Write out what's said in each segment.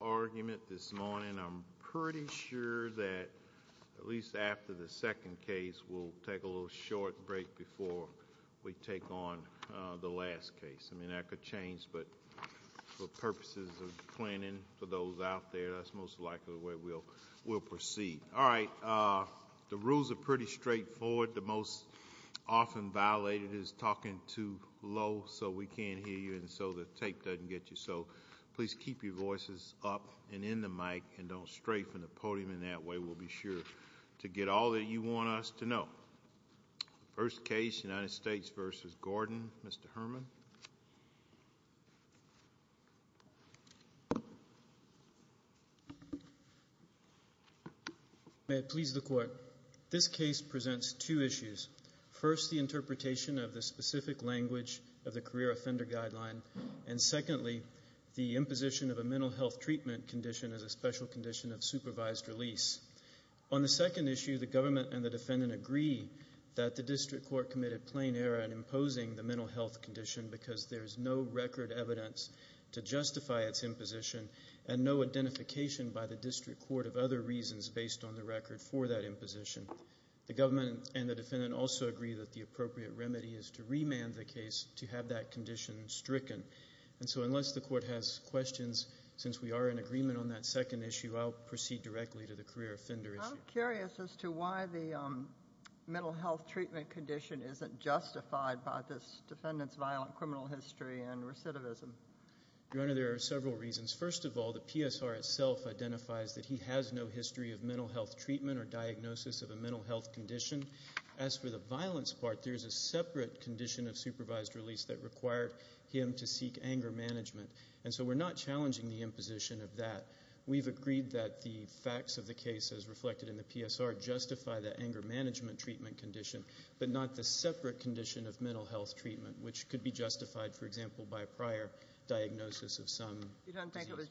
argument this morning. I'm pretty sure that at least after the second case we'll take a little short break before we take on the last case. I mean that could change but for purposes of planning for those out there that's most likely the way we'll proceed. All right, the rules are pretty straightforward. The most often violated is talking too low so we can't hear you and so the tape doesn't get you so please keep your voices up and in the mic and don't strafe in the podium in that way. We'll be sure to get all that you want us to know. First case United States v. Gordon. Mr. Herman. May it please the court. This case presents two issues. First the interpretation of the specific language of the career offender guideline and secondly the imposition of a mental health treatment condition as a special condition of supervised release. On the second issue the government and the defendant agree that the district court committed plain error in imposing the mental health condition because there is no record evidence to justify its imposition and no identification by the district court of other reasons based on the record for that case to have that condition stricken and so unless the court has questions since we are in agreement on that second issue I'll proceed directly to the career offender issue. I'm curious as to why the mental health treatment condition isn't justified by this defendant's violent criminal history and recidivism. Your honor there are several reasons. First of all the PSR itself identifies that he has no history of mental health treatment or diagnosis of a mental health condition. As for the violence part there's a separate condition of supervised release that required him to seek anger management and so we're not challenging the imposition of that. We've agreed that the facts of the case as reflected in the PSR justify the anger management treatment condition but not the separate condition of mental health treatment which could be justified for example by a prior diagnosis of some. You don't think it was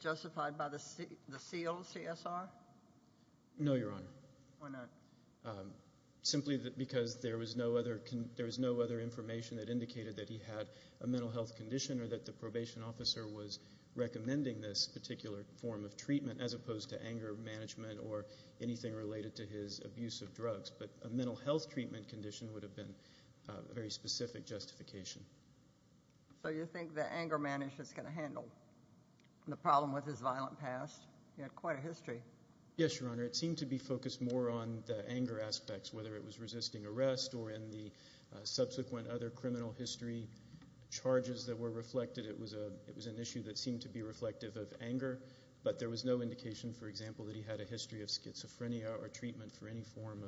because there was no other there was no other information that indicated that he had a mental health condition or that the probation officer was recommending this particular form of treatment as opposed to anger management or anything related to his abuse of drugs but a mental health treatment condition would have been a very specific justification. So you think the anger management is going to handle the problem with his violent past? He had quite a history. Yes your honor it seemed to be focused more on the anger aspects whether it was resisting arrest or in the subsequent other criminal history charges that were reflected it was a it was an issue that seemed to be reflective of anger but there was no indication for example that he had a history of schizophrenia or treatment for any form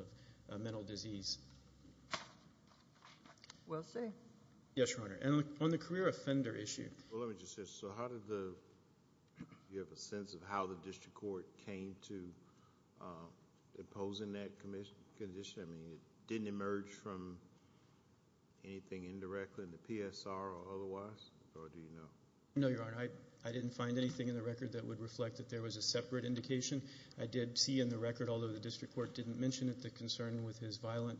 of mental disease. Well say. Yes your honor and on the career offender issue. Well let me just say so how did the you have a sense of how the district court came to imposing that commission condition I mean it didn't emerge from anything indirectly in the PSR or otherwise or do you know? No your honor I didn't find anything in the record that would reflect that there was a separate indication. I did see in the record although the district court didn't mention it the concern with his violent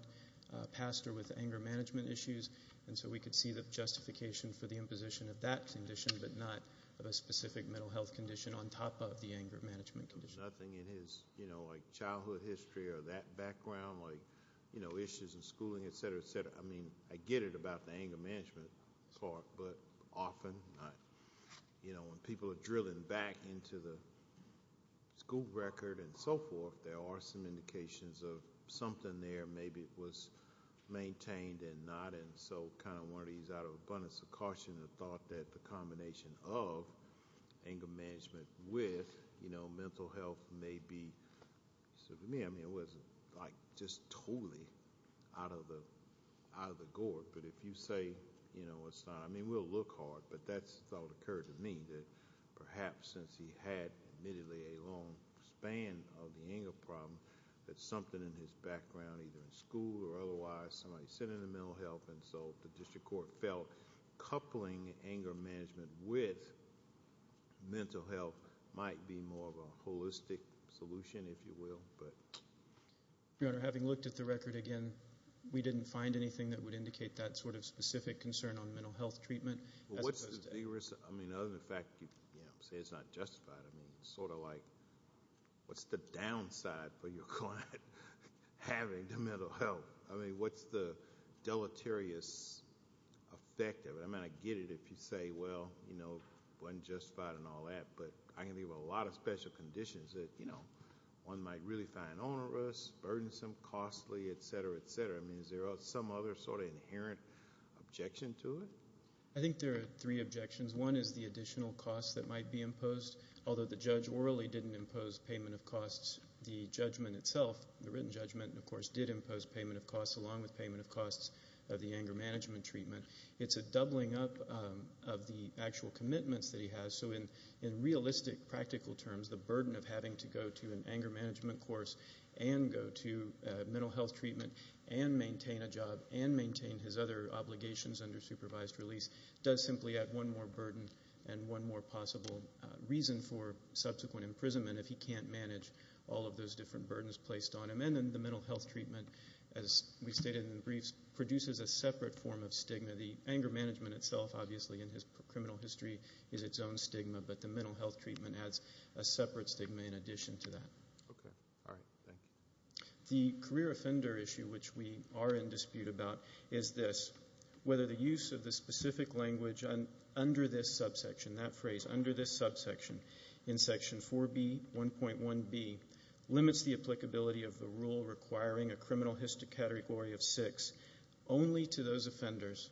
past or with anger management issues and so we could see the justification for the imposition of that condition but not of a specific mental health condition on top of the anger management condition. Nothing in his you know like childhood history or that background like you know issues in schooling etc. I mean I get it about the anger management part but often not you know when people are drilling back into the school record and so forth there are some indications of something there maybe it was maintained and not and so kind of one of these out of abundance of caution of thought that the combination of anger management with you know mental health may be so for me I mean it wasn't like just totally out of the out of the gourd but if you say you know it's not I mean we'll look hard but that's what occurred to me that perhaps since he had admittedly a long span of the anger problem that something in his background either in school or otherwise somebody said in the mental health and so the district court felt coupling anger management with mental health might be more of a holistic solution if you will but your honor having looked at the record again we didn't find anything that would indicate that sort of specific concern on mental health treatment as opposed to I mean other than the fact you know say it's not justified I mean sort of like what's the downside for your client having the mental health I mean what's the deleterious effect of it I mean I get it if you say well you know wasn't justified and all that but I can think of a lot of special conditions that you know one might really find onerous burdensome costly etc etc I mean is there some other sort of inherent objection to it I think there are three objections one is the additional costs that might be imposed although the judge orally didn't impose payment of costs the judgment itself the written judgment of course did impose payment of costs along with payment of costs of the anger management treatment it's a doubling up of the actual commitments that he has so in in realistic practical terms the burden of having to go to an anger management course and go to mental health treatment and maintain a job and maintain his other obligations under supervised release does simply add one more burden and one more possible reason for subsequent imprisonment if he can't manage all of those different burdens placed on him and then the mental health treatment as we stated in the briefs produces a separate form of stigma the anger management itself obviously in his criminal history is its own stigma but the mental health treatment adds a separate stigma in addition to that okay all right thank you the career offender issue which we are in dispute about is this whether the use of the specific language on under this subsection that phrase under this subsection in section 4b 1.1b limits the applicability of the rule requiring a criminal history category of six only to those offenders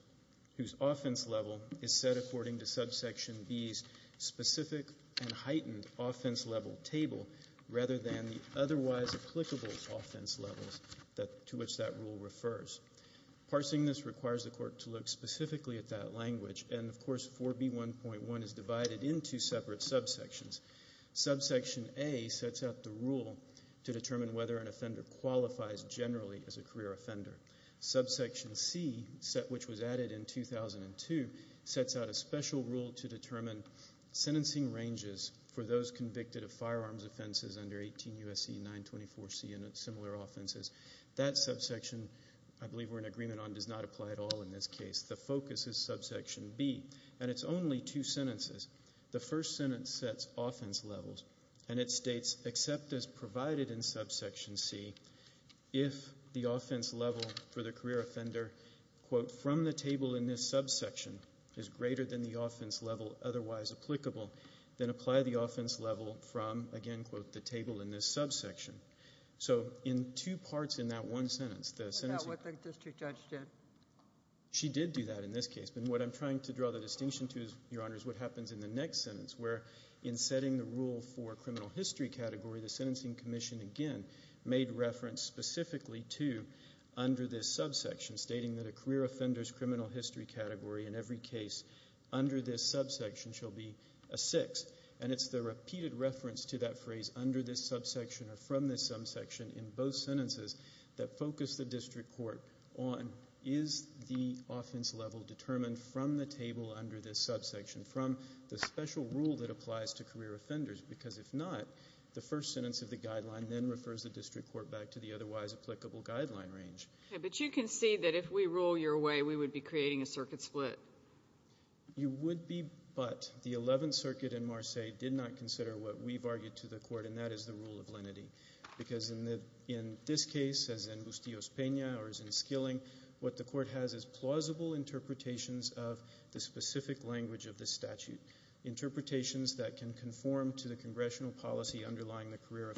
whose offense level is set according to subsection b's specific and heightened offense level table rather than the otherwise applicable offense levels that to which that rule refers parsing this requires the court to look specifically at that language and of course 4b 1.1 is divided into separate subsections subsection a sets out the rule to determine whether an offender qualifies generally as a career offender subsection c set which was added in 2002 sets out a special rule to determine sentencing ranges for those convicted of firearms offenses under 18 usc 924c and similar offenses that subsection i believe we're in agreement on does not apply at all in this case the focus is subsection b and it's only two sentences the first sentence sets offense levels and it states except as provided in subsection c if the offense level for the career offender quote from the table in this subsection is greater than the offense level otherwise applicable then apply the offense level from again quote the table in this subsection so in two parts in that one sentence the sentence what the district judge did she did do that in this case but what i'm trying to draw the distinction to is your honor is what happens in the next sentence where in setting the rule for criminal history category the sentencing commission again made reference specifically to under this subsection stating that a career criminal history category in every case under this subsection shall be a six and it's the repeated reference to that phrase under this subsection or from this subsection in both sentences that focus the district court on is the offense level determined from the table under this subsection from the special rule that applies to career offenders because if not the first sentence of the guideline then refers the district court back to the otherwise applicable guideline but you can see that if we rule your way we would be creating a circuit split you would be but the 11th circuit in Marseilles did not consider what we've argued to the court and that is the rule of lenity because in the in this case as in Bustillos-Pena or as in Skilling what the court has is plausible interpretations of the specific language of the statute interpretations that can conform to the congressional policy underlying the career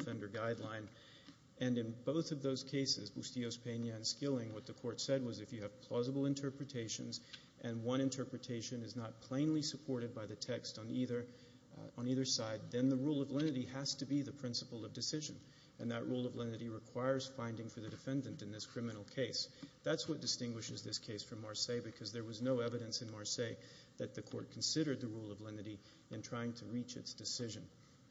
Skilling what the court said was if you have plausible interpretations and one interpretation is not plainly supported by the text on either on either side then the rule of lenity has to be the principle of decision and that rule of lenity requires finding for the defendant in this criminal case that's what distinguishes this case from Marseilles because there was no evidence in Marseilles that the court considered the rule of lenity in trying to reach its decision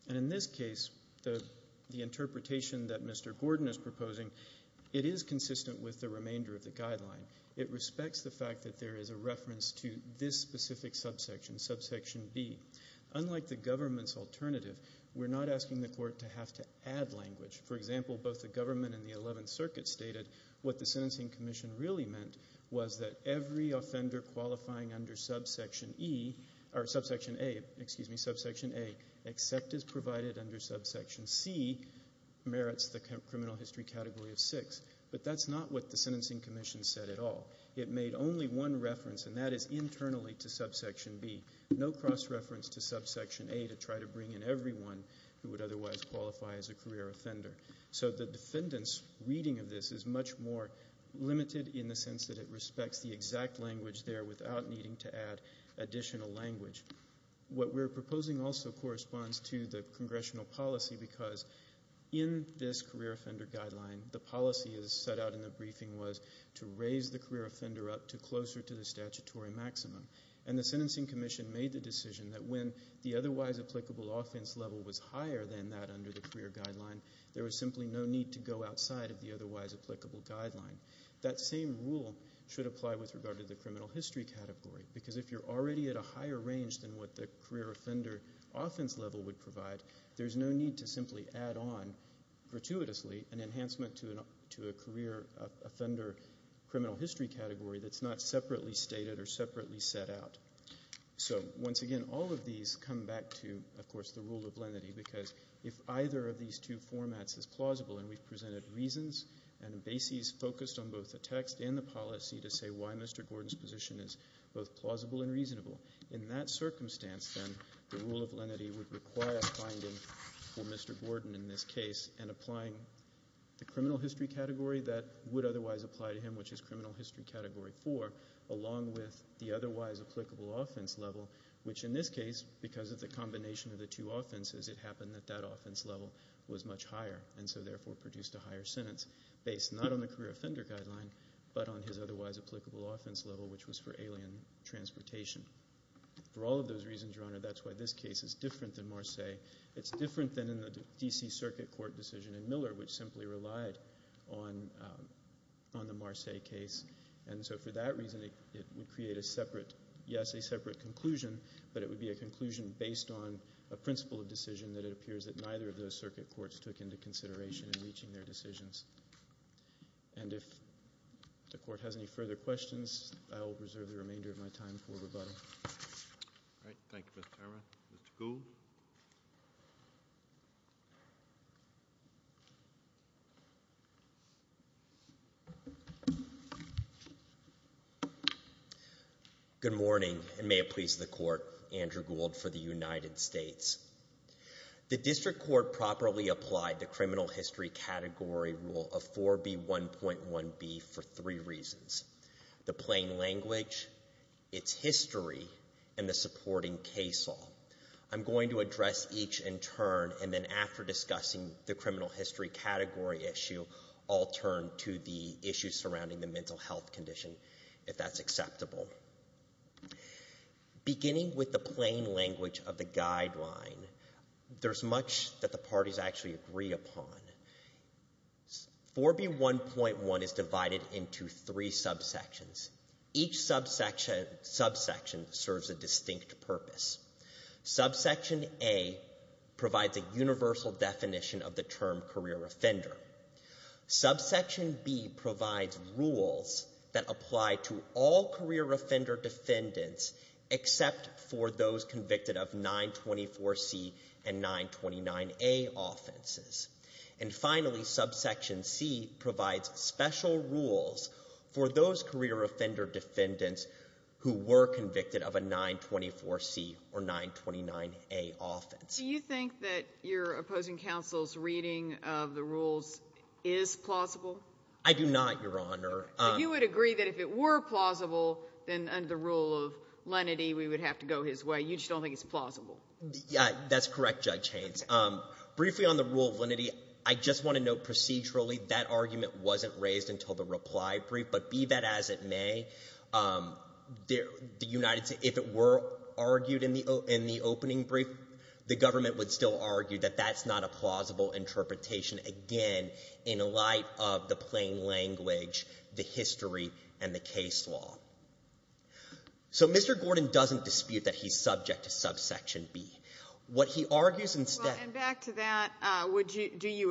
and in this case the the interpretation that Mr. Gordon is proposing it is consistent with the remainder of the guideline it respects the fact that there is a reference to this specific subsection subsection b unlike the government's alternative we're not asking the court to have to add language for example both the government and the 11th circuit stated what the sentencing commission really meant was that every offender qualifying under subsection e or subsection a excuse me subsection a except is provided under subsection c merits the criminal history category of six but that's not what the sentencing commission said at all it made only one reference and that is internally to subsection b no cross reference to subsection a to try to bring in everyone who would otherwise qualify as a career offender so the defendant's reading of this is much more limited in the sense that it respects the exact language there without needing to add additional language what we're proposing also corresponds to the congressional policy because in this career offender guideline the policy is set out in the briefing was to raise the career offender up to closer to the statutory maximum and the sentencing commission made the decision that when the otherwise applicable offense level was higher than that under the career guideline there was simply no need to go outside of the otherwise applicable guideline that same rule should apply with regard to the criminal history category because if you're already at a higher range than what the career offender offense level would provide there's no need to simply add on gratuitously an enhancement to an to a career offender criminal history category that's not separately stated or separately set out so once again all of these come back to of course the rule of lenity because if either of these two formats is plausible and we've presented reasons and bases focused on both the text and the policy to say why mr gordon's position is both plausible and reasonable in that circumstance then the rule of lenity would require a finding for mr gordon in this case and applying the criminal history category that would otherwise apply to him which is criminal history category four along with the otherwise applicable offense level which in this case because of the combination of the two offenses it happened that that offense level was much higher and so therefore produced a higher sentence based not on the career offender guideline but on his otherwise applicable offense level which was for alien transportation for all of those reasons your honor that's why this case is different than marseille it's different than in the dc circuit court decision in miller which simply relied on on the marseille case and so for that reason it would create a separate yes a separate conclusion but it would be a conclusion based on a principle of decision that it appears that neither of those the court has any further questions i will reserve the remainder of my time for rebuttal all right thank you mr gould good morning and may it please the court andrew gould for the united states the district court properly applied the criminal history category rule of 4b 1.1b for three reasons the plain language its history and the supporting case law i'm going to address each in turn and then after discussing the criminal history category issue i'll turn to the issues surrounding the mental health condition if that's acceptable beginning with the plain language of the guideline there's much that the parties actually agree upon 4b 1.1 is divided into three subsections each subsection subsection serves a distinct purpose subsection a provides a universal definition of the term career offender subsection b provides rules that apply to all career offender defendants except for those convicted of 924c and 929a offenses and finally subsection c provides special rules for those career offender defendants who were convicted of a 924c or 929a offense do you think that your opposing counsel's reading of the rules is plausible i do not your honor you would agree that if it were plausible then under the rule of lenity we would have to go his way you just don't think it's plausible yeah that's correct judge haynes um briefly on the rule of lenity i just want to note procedurally that argument wasn't raised until the reply brief but be that as it may um the united states if it were argued in the in the opening brief the government would still argue that that's not a plausible interpretation again in light of the plain language the history and the case law so mr gordon doesn't dispute that he's subject to subsection b what he argues instead and back to that uh would you do you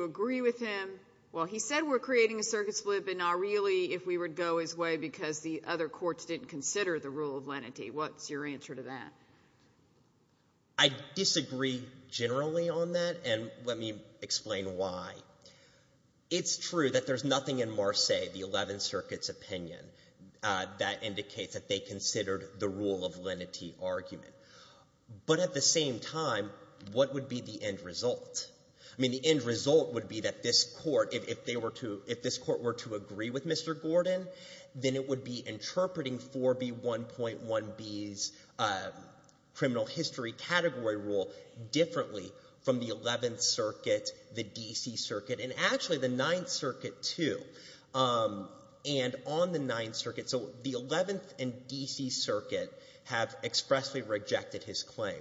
go his way because the other courts didn't consider the rule of lenity what's your answer to that i disagree generally on that and let me explain why it's true that there's nothing in marseilles the 11th circuit's opinion uh that indicates that they considered the rule of lenity argument but at the same time what would be the end result i mean the end result would be that this court if they were to if this court were to agree with mr gordon then it would be interpreting 4b 1.1 b's uh criminal history category rule differently from the 11th circuit the dc circuit and actually the 9th circuit too um and on the 9th circuit so the 11th and dc circuit have expressly rejected his claim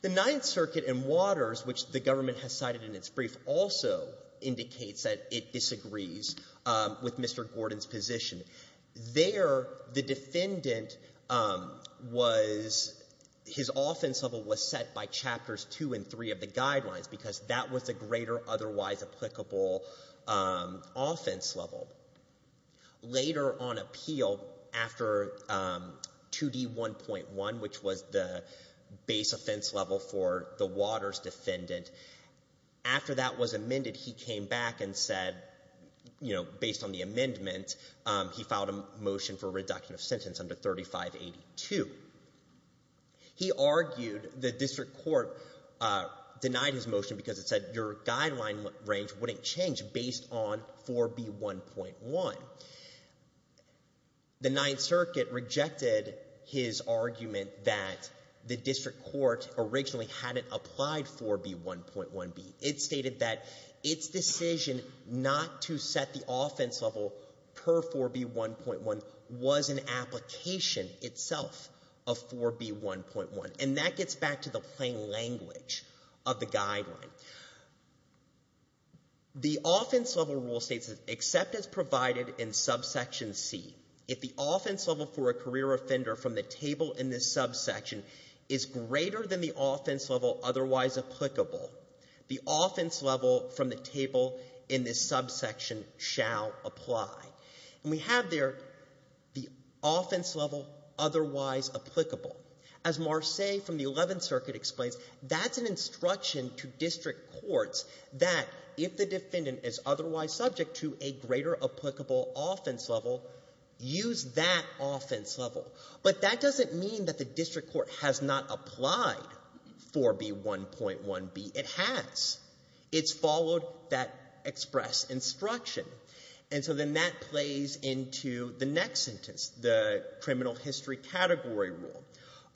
the 9th circuit and waters which the government has cited in its brief also indicates that it disagrees um with mr gordon's position there the defendant um was his offense level was set by chapters two and three of the guidelines because that was a greater otherwise applicable um offense level later on appeal after um 2d 1.1 which was the base offense level for the waters defendant after that was amended he came back and said you know based on the amendment he filed a motion for reduction of sentence under 3582 he argued the district court uh denied his motion because it said your guideline range wouldn't change based on 4b 1.1 the 9th circuit rejected his argument that the district court originally hadn't applied 4b 1.1 b it stated that its decision not to set the offense level per 4b 1.1 was an application itself of 4b 1.1 and that gets back to the plain language of the guideline the offense level rule states that except as from the table in this subsection is greater than the offense level otherwise applicable the offense level from the table in this subsection shall apply and we have there the offense level otherwise applicable as marseille from the 11th circuit explains that's an instruction to district courts that if the defendant is otherwise subject to a greater applicable offense level use that offense level but that doesn't mean that the district court has not applied 4b 1.1 b it has it's followed that express instruction and so then that plays into the next sentence the criminal history category rule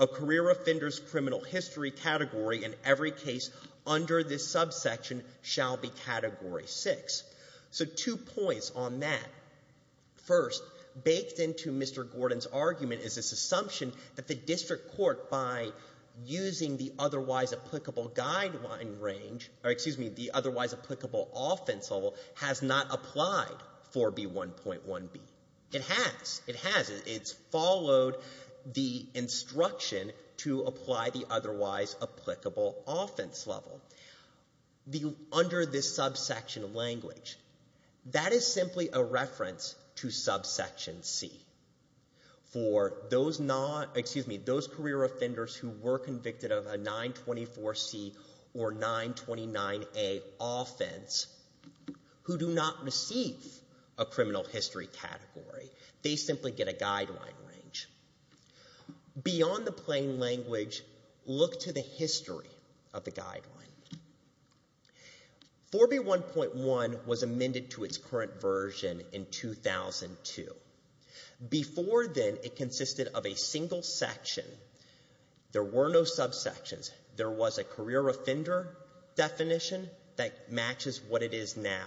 a career offenders criminal history category in every case under this subsection shall be category six so two points on that first baked into mr gordon's argument is this assumption that the district court by using the otherwise applicable guideline range or excuse me the otherwise applicable offense level has not applied 4b offense level the under this subsection language that is simply a reference to subsection c for those not excuse me those career offenders who were convicted of a 924 c or 929 a offense who do not receive a criminal history category they simply get a guideline range beyond the plain language look to the history of the guideline 4b 1.1 was amended to its current version in 2002 before then it consisted of a single section there were no subsections there was a career offender definition that matches what it is now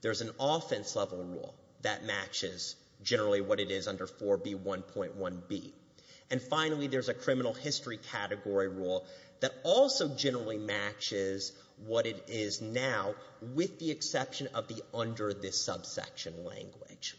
there's an offense level rule that matches generally what it is under 4b 1.1 b and finally there's a criminal history category rule that also generally matches what it is now with the exception of the under this subsection language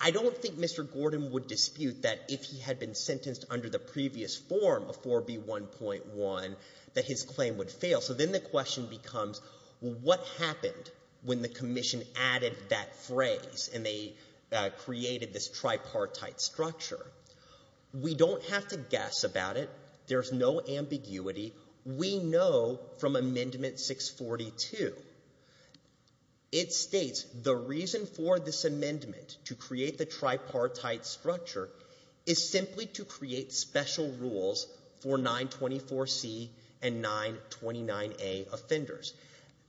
i don't think mr gordon would dispute that if he had been sentenced under the previous form of 4b 1.1 that his claim would fail so then the question becomes what happened when the commission added that phrase and they created this tripartite structure we don't have to guess about it there's no ambiguity we know from amendment 642 it states the reason for this amendment to create the tripartite structure is simply to create special rules for 924 c and 929 a offenders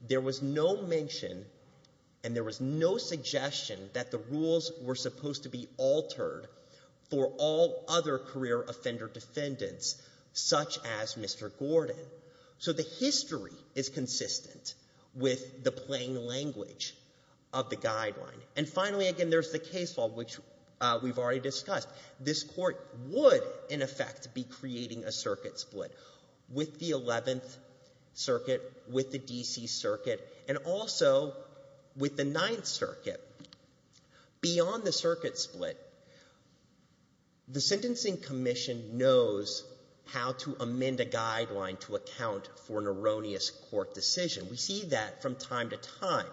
there was no mention and there was no suggestion that the rules were supposed to be altered for all other career offender defendants such as mr gordon so the history is consistent with the plain language of the guideline and be creating a circuit split with the 11th circuit with the dc circuit and also with the 9th circuit beyond the circuit split the sentencing commission knows how to amend a guideline to account for an erroneous court decision we see that from time to time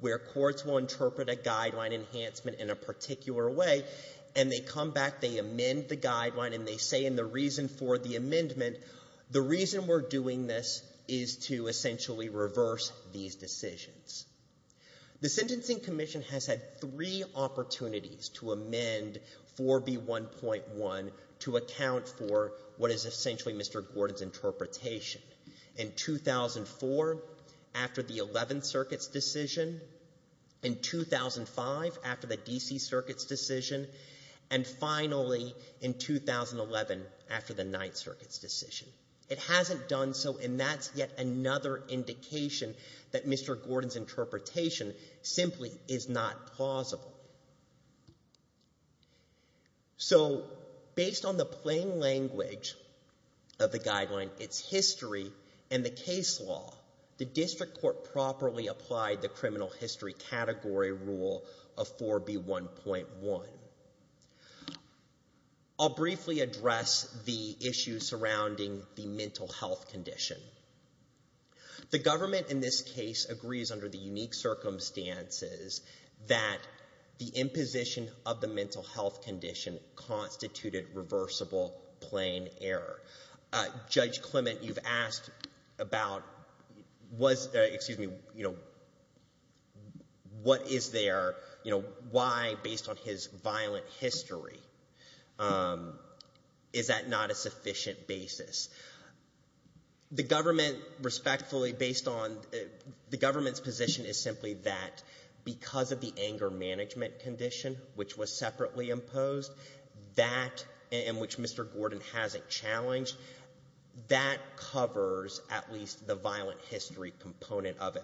where courts will interpret a guideline enhancement in a particular way and they come back they amend the guideline and they say in the reason for the amendment the reason we're doing this is to essentially reverse these decisions the sentencing commission has had three opportunities to amend 4b 1.1 to account for what is essentially mr gordon's interpretation in 2004 after the 11th circuit's decision in 2005 after the dc circuit's decision and finally in 2011 after the 9th circuit's decision it hasn't done so and that's yet another indication that mr gordon's interpretation simply is not plausible so based on the plain language of the guideline its history and the case law the history category rule of 4b 1.1 i'll briefly address the issues surrounding the mental health condition the government in this case agrees under the unique circumstances that the imposition of the mental health condition constituted reversible plain error uh judge clement you've asked about was excuse me you know what is there you know why based on his violent history is that not a sufficient basis the government respectfully based on the government's position is simply that because of the anger management condition which was separately imposed that in which mr gordon hasn't challenged that covers at least the violent history component of it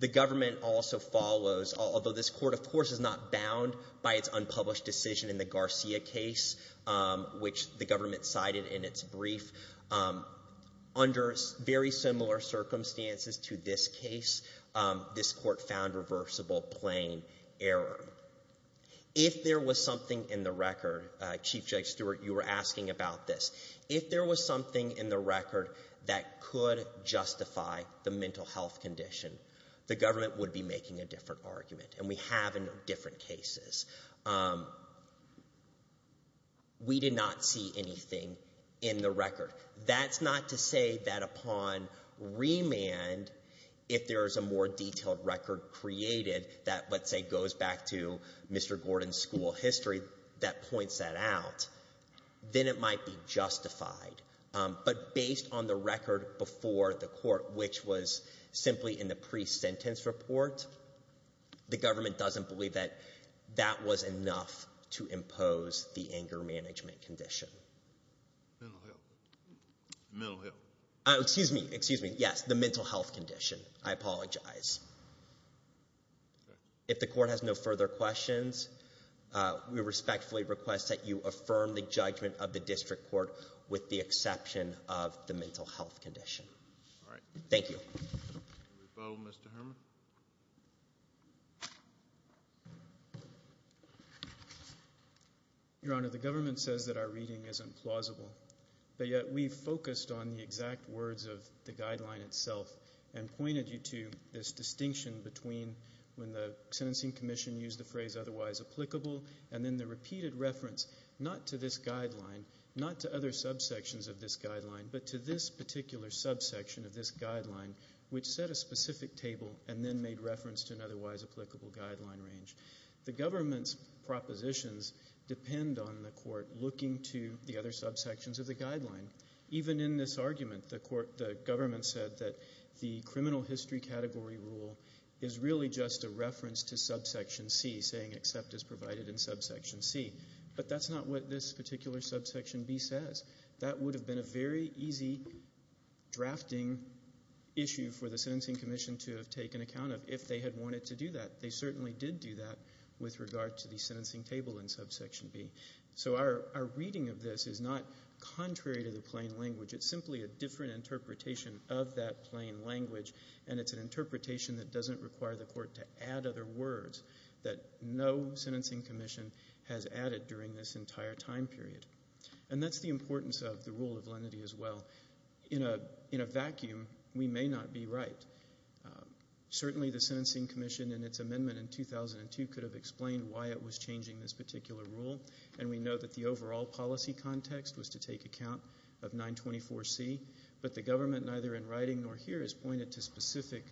the government also follows although this court of course is not bound by its unpublished decision in the garcia case which the government cited in its brief under very similar circumstances to this case this court found reversible plain error if there was something in the record uh chief judge stewart you were asking about this if there was something in the record that could justify the mental health condition the government would be making a different argument and we have in different cases we did not see anything in the record that's not to say that upon remand if there is a more mr gordon's school history that points that out then it might be justified but based on the record before the court which was simply in the pre-sentence report the government doesn't believe that that was enough to impose the anger management condition oh excuse me excuse me yes the mental health condition i apologize if the court has no further questions uh we respectfully request that you affirm the judgment of the district court with the exception of the mental health condition all right thank you bow mr herman your honor the government says that our reading is implausible but yet we focused on the exact words of the guideline itself and pointed you to this distinction between when the sentencing commission used the phrase otherwise applicable and then the repeated reference not to this guideline not to other subsections of this guideline but to this particular subsection of this guideline which set a specific table and then made reference to an otherwise applicable guideline range the government's propositions depend on the court looking to the other subsections of the guideline even in this argument the court the government said that the criminal history category rule is really just a reference to subsection c saying except is provided in subsection c but that's not what this particular subsection b says that would have been a very easy drafting issue for the sentencing commission to have taken account of if they had wanted to do that they certainly did do that with regard to the sentencing table in subsection b so our our reading of this is not contrary to the plain language it's simply a different interpretation of that plain language and it's an interpretation that doesn't require the court to add other words that no sentencing commission has added during this entire time period and that's the importance of the rule of lenity as well in a in a vacuum we may not be right certainly the sentencing commission and its amendment in 2002 could have explained why it was changing this particular rule and we know that the overall policy context was to take account of 924 c but the government neither in writing nor here is pointed to specific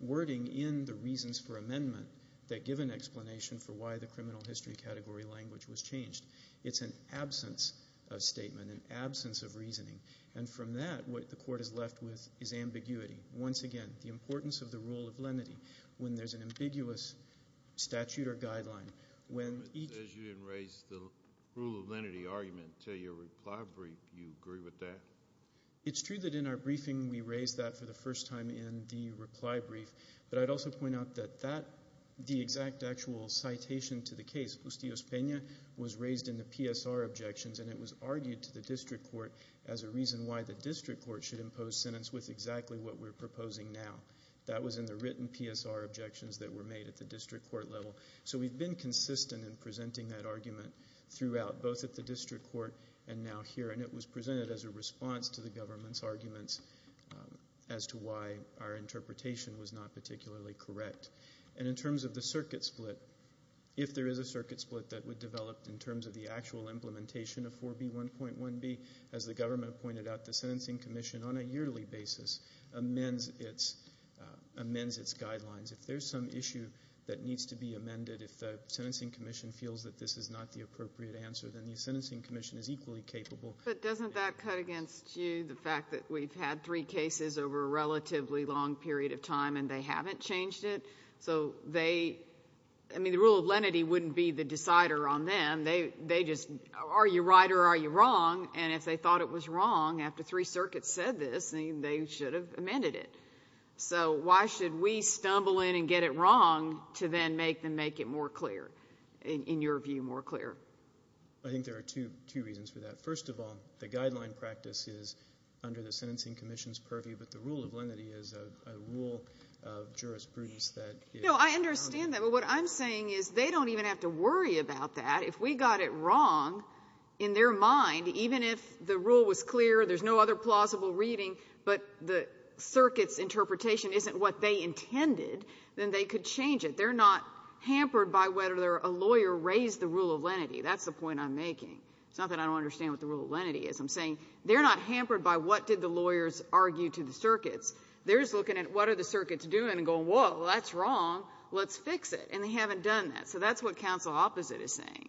wording in the reasons for amendment that give an explanation for why the criminal history category language was changed it's an absence of statement an absence of reasoning and from that what the court is left with is ambiguity once again the importance of the rule of lenity when there's an ambiguous statute or guideline when each as you didn't raise the rule of lenity argument to your reply brief you agree with that it's true that in our briefing we raised that for the first time in the reply brief but i'd also point out that that the exact actual citation to the case justios pena was raised in the psr objections and it was argued to the district court as a reason why the district court should impose sentence with exactly what we're proposing now that was in the written psr objections that were made at the district court level so we've been consistent in presenting that argument throughout both at the district court and now here and it was presented as a response to the government's arguments as to why our interpretation was not particularly correct and in terms of the circuit split if there is a circuit split that would develop in terms of the actual implementation of 4b 1.1b as the government pointed out the sentencing commission on a yearly basis amends its amends its guidelines if there's some issue that needs to be amended if the sentencing commission feels that this is not the appropriate answer then the sentencing commission is equally capable but doesn't that cut against you the fact that we've had three cases over a relatively long period of time and they haven't changed it so they i mean the rule of lenity wouldn't be the decider on them they they just are you right or are you wrong and if they thought it was wrong after three circuits said this they should have amended it so why should we stumble in and get it wrong to then make them make it more clear in your view more clear i think there are two two reasons for that first of all the guideline practice is under the sentencing commission's purview but the rule of lenity is a rule of jurisprudence that you know i understand that but what i'm saying is they don't even have to worry about that if we got it wrong in their mind even if the rule was clear there's no other plausible reading but the circuit's interpretation isn't what they intended then they could change it they're not hampered by whether they're a lawyer raised the rule of lenity that's the point i'm making it's not that i don't understand what the rule of lenity is i'm saying they're not hampered by what did the lawyers argue to the circuits they're just looking at what are the circuits doing and going whoa that's wrong let's fix it and they haven't done that so that's what council opposite is saying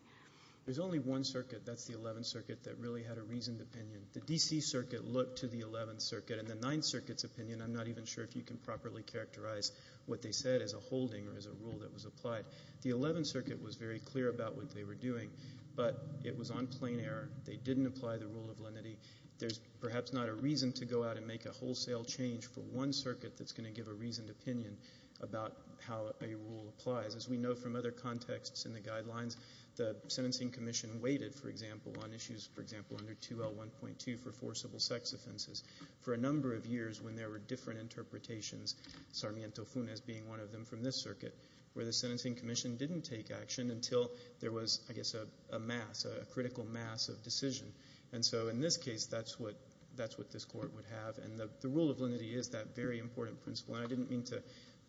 there's only one circuit that's the 11th circuit that really had a reasoned opinion the dc circuit looked to the 11th circuit and the ninth circuit's opinion i'm not even sure if you can properly characterize what they said as a holding or as a rule that was applied the 11th circuit was very clear about what they were doing but it was on plain error they didn't apply the rule of lenity there's perhaps not a reason to go out and make a wholesale change for one circuit that's going to give a reasoned opinion about how a rule applies as we know from other contexts in the guidelines the sentencing commission waited for example on 2l 1.2 for forcible sex offenses for a number of years when there were different interpretations sarmiento funes being one of them from this circuit where the sentencing commission didn't take action until there was i guess a mass a critical mass of decision and so in this case that's what that's what this court would have and the rule of lenity is that very important principle and i didn't mean to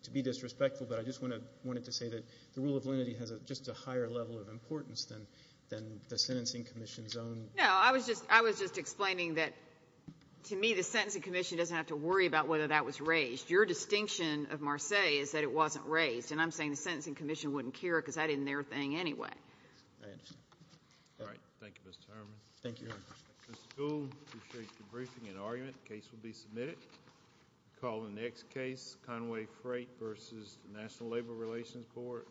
to be disrespectful but i just want to wanted to say that the rule of of importance than than the sentencing commission's own no i was just i was just explaining that to me the sentencing commission doesn't have to worry about whether that was raised your distinction of marseilles is that it wasn't raised and i'm saying the sentencing commission wouldn't care because i didn't their thing anyway i understand all right thank you mr harman thank you appreciate the briefing and argument case will be submitted call the next case conway freight versus national labor relations board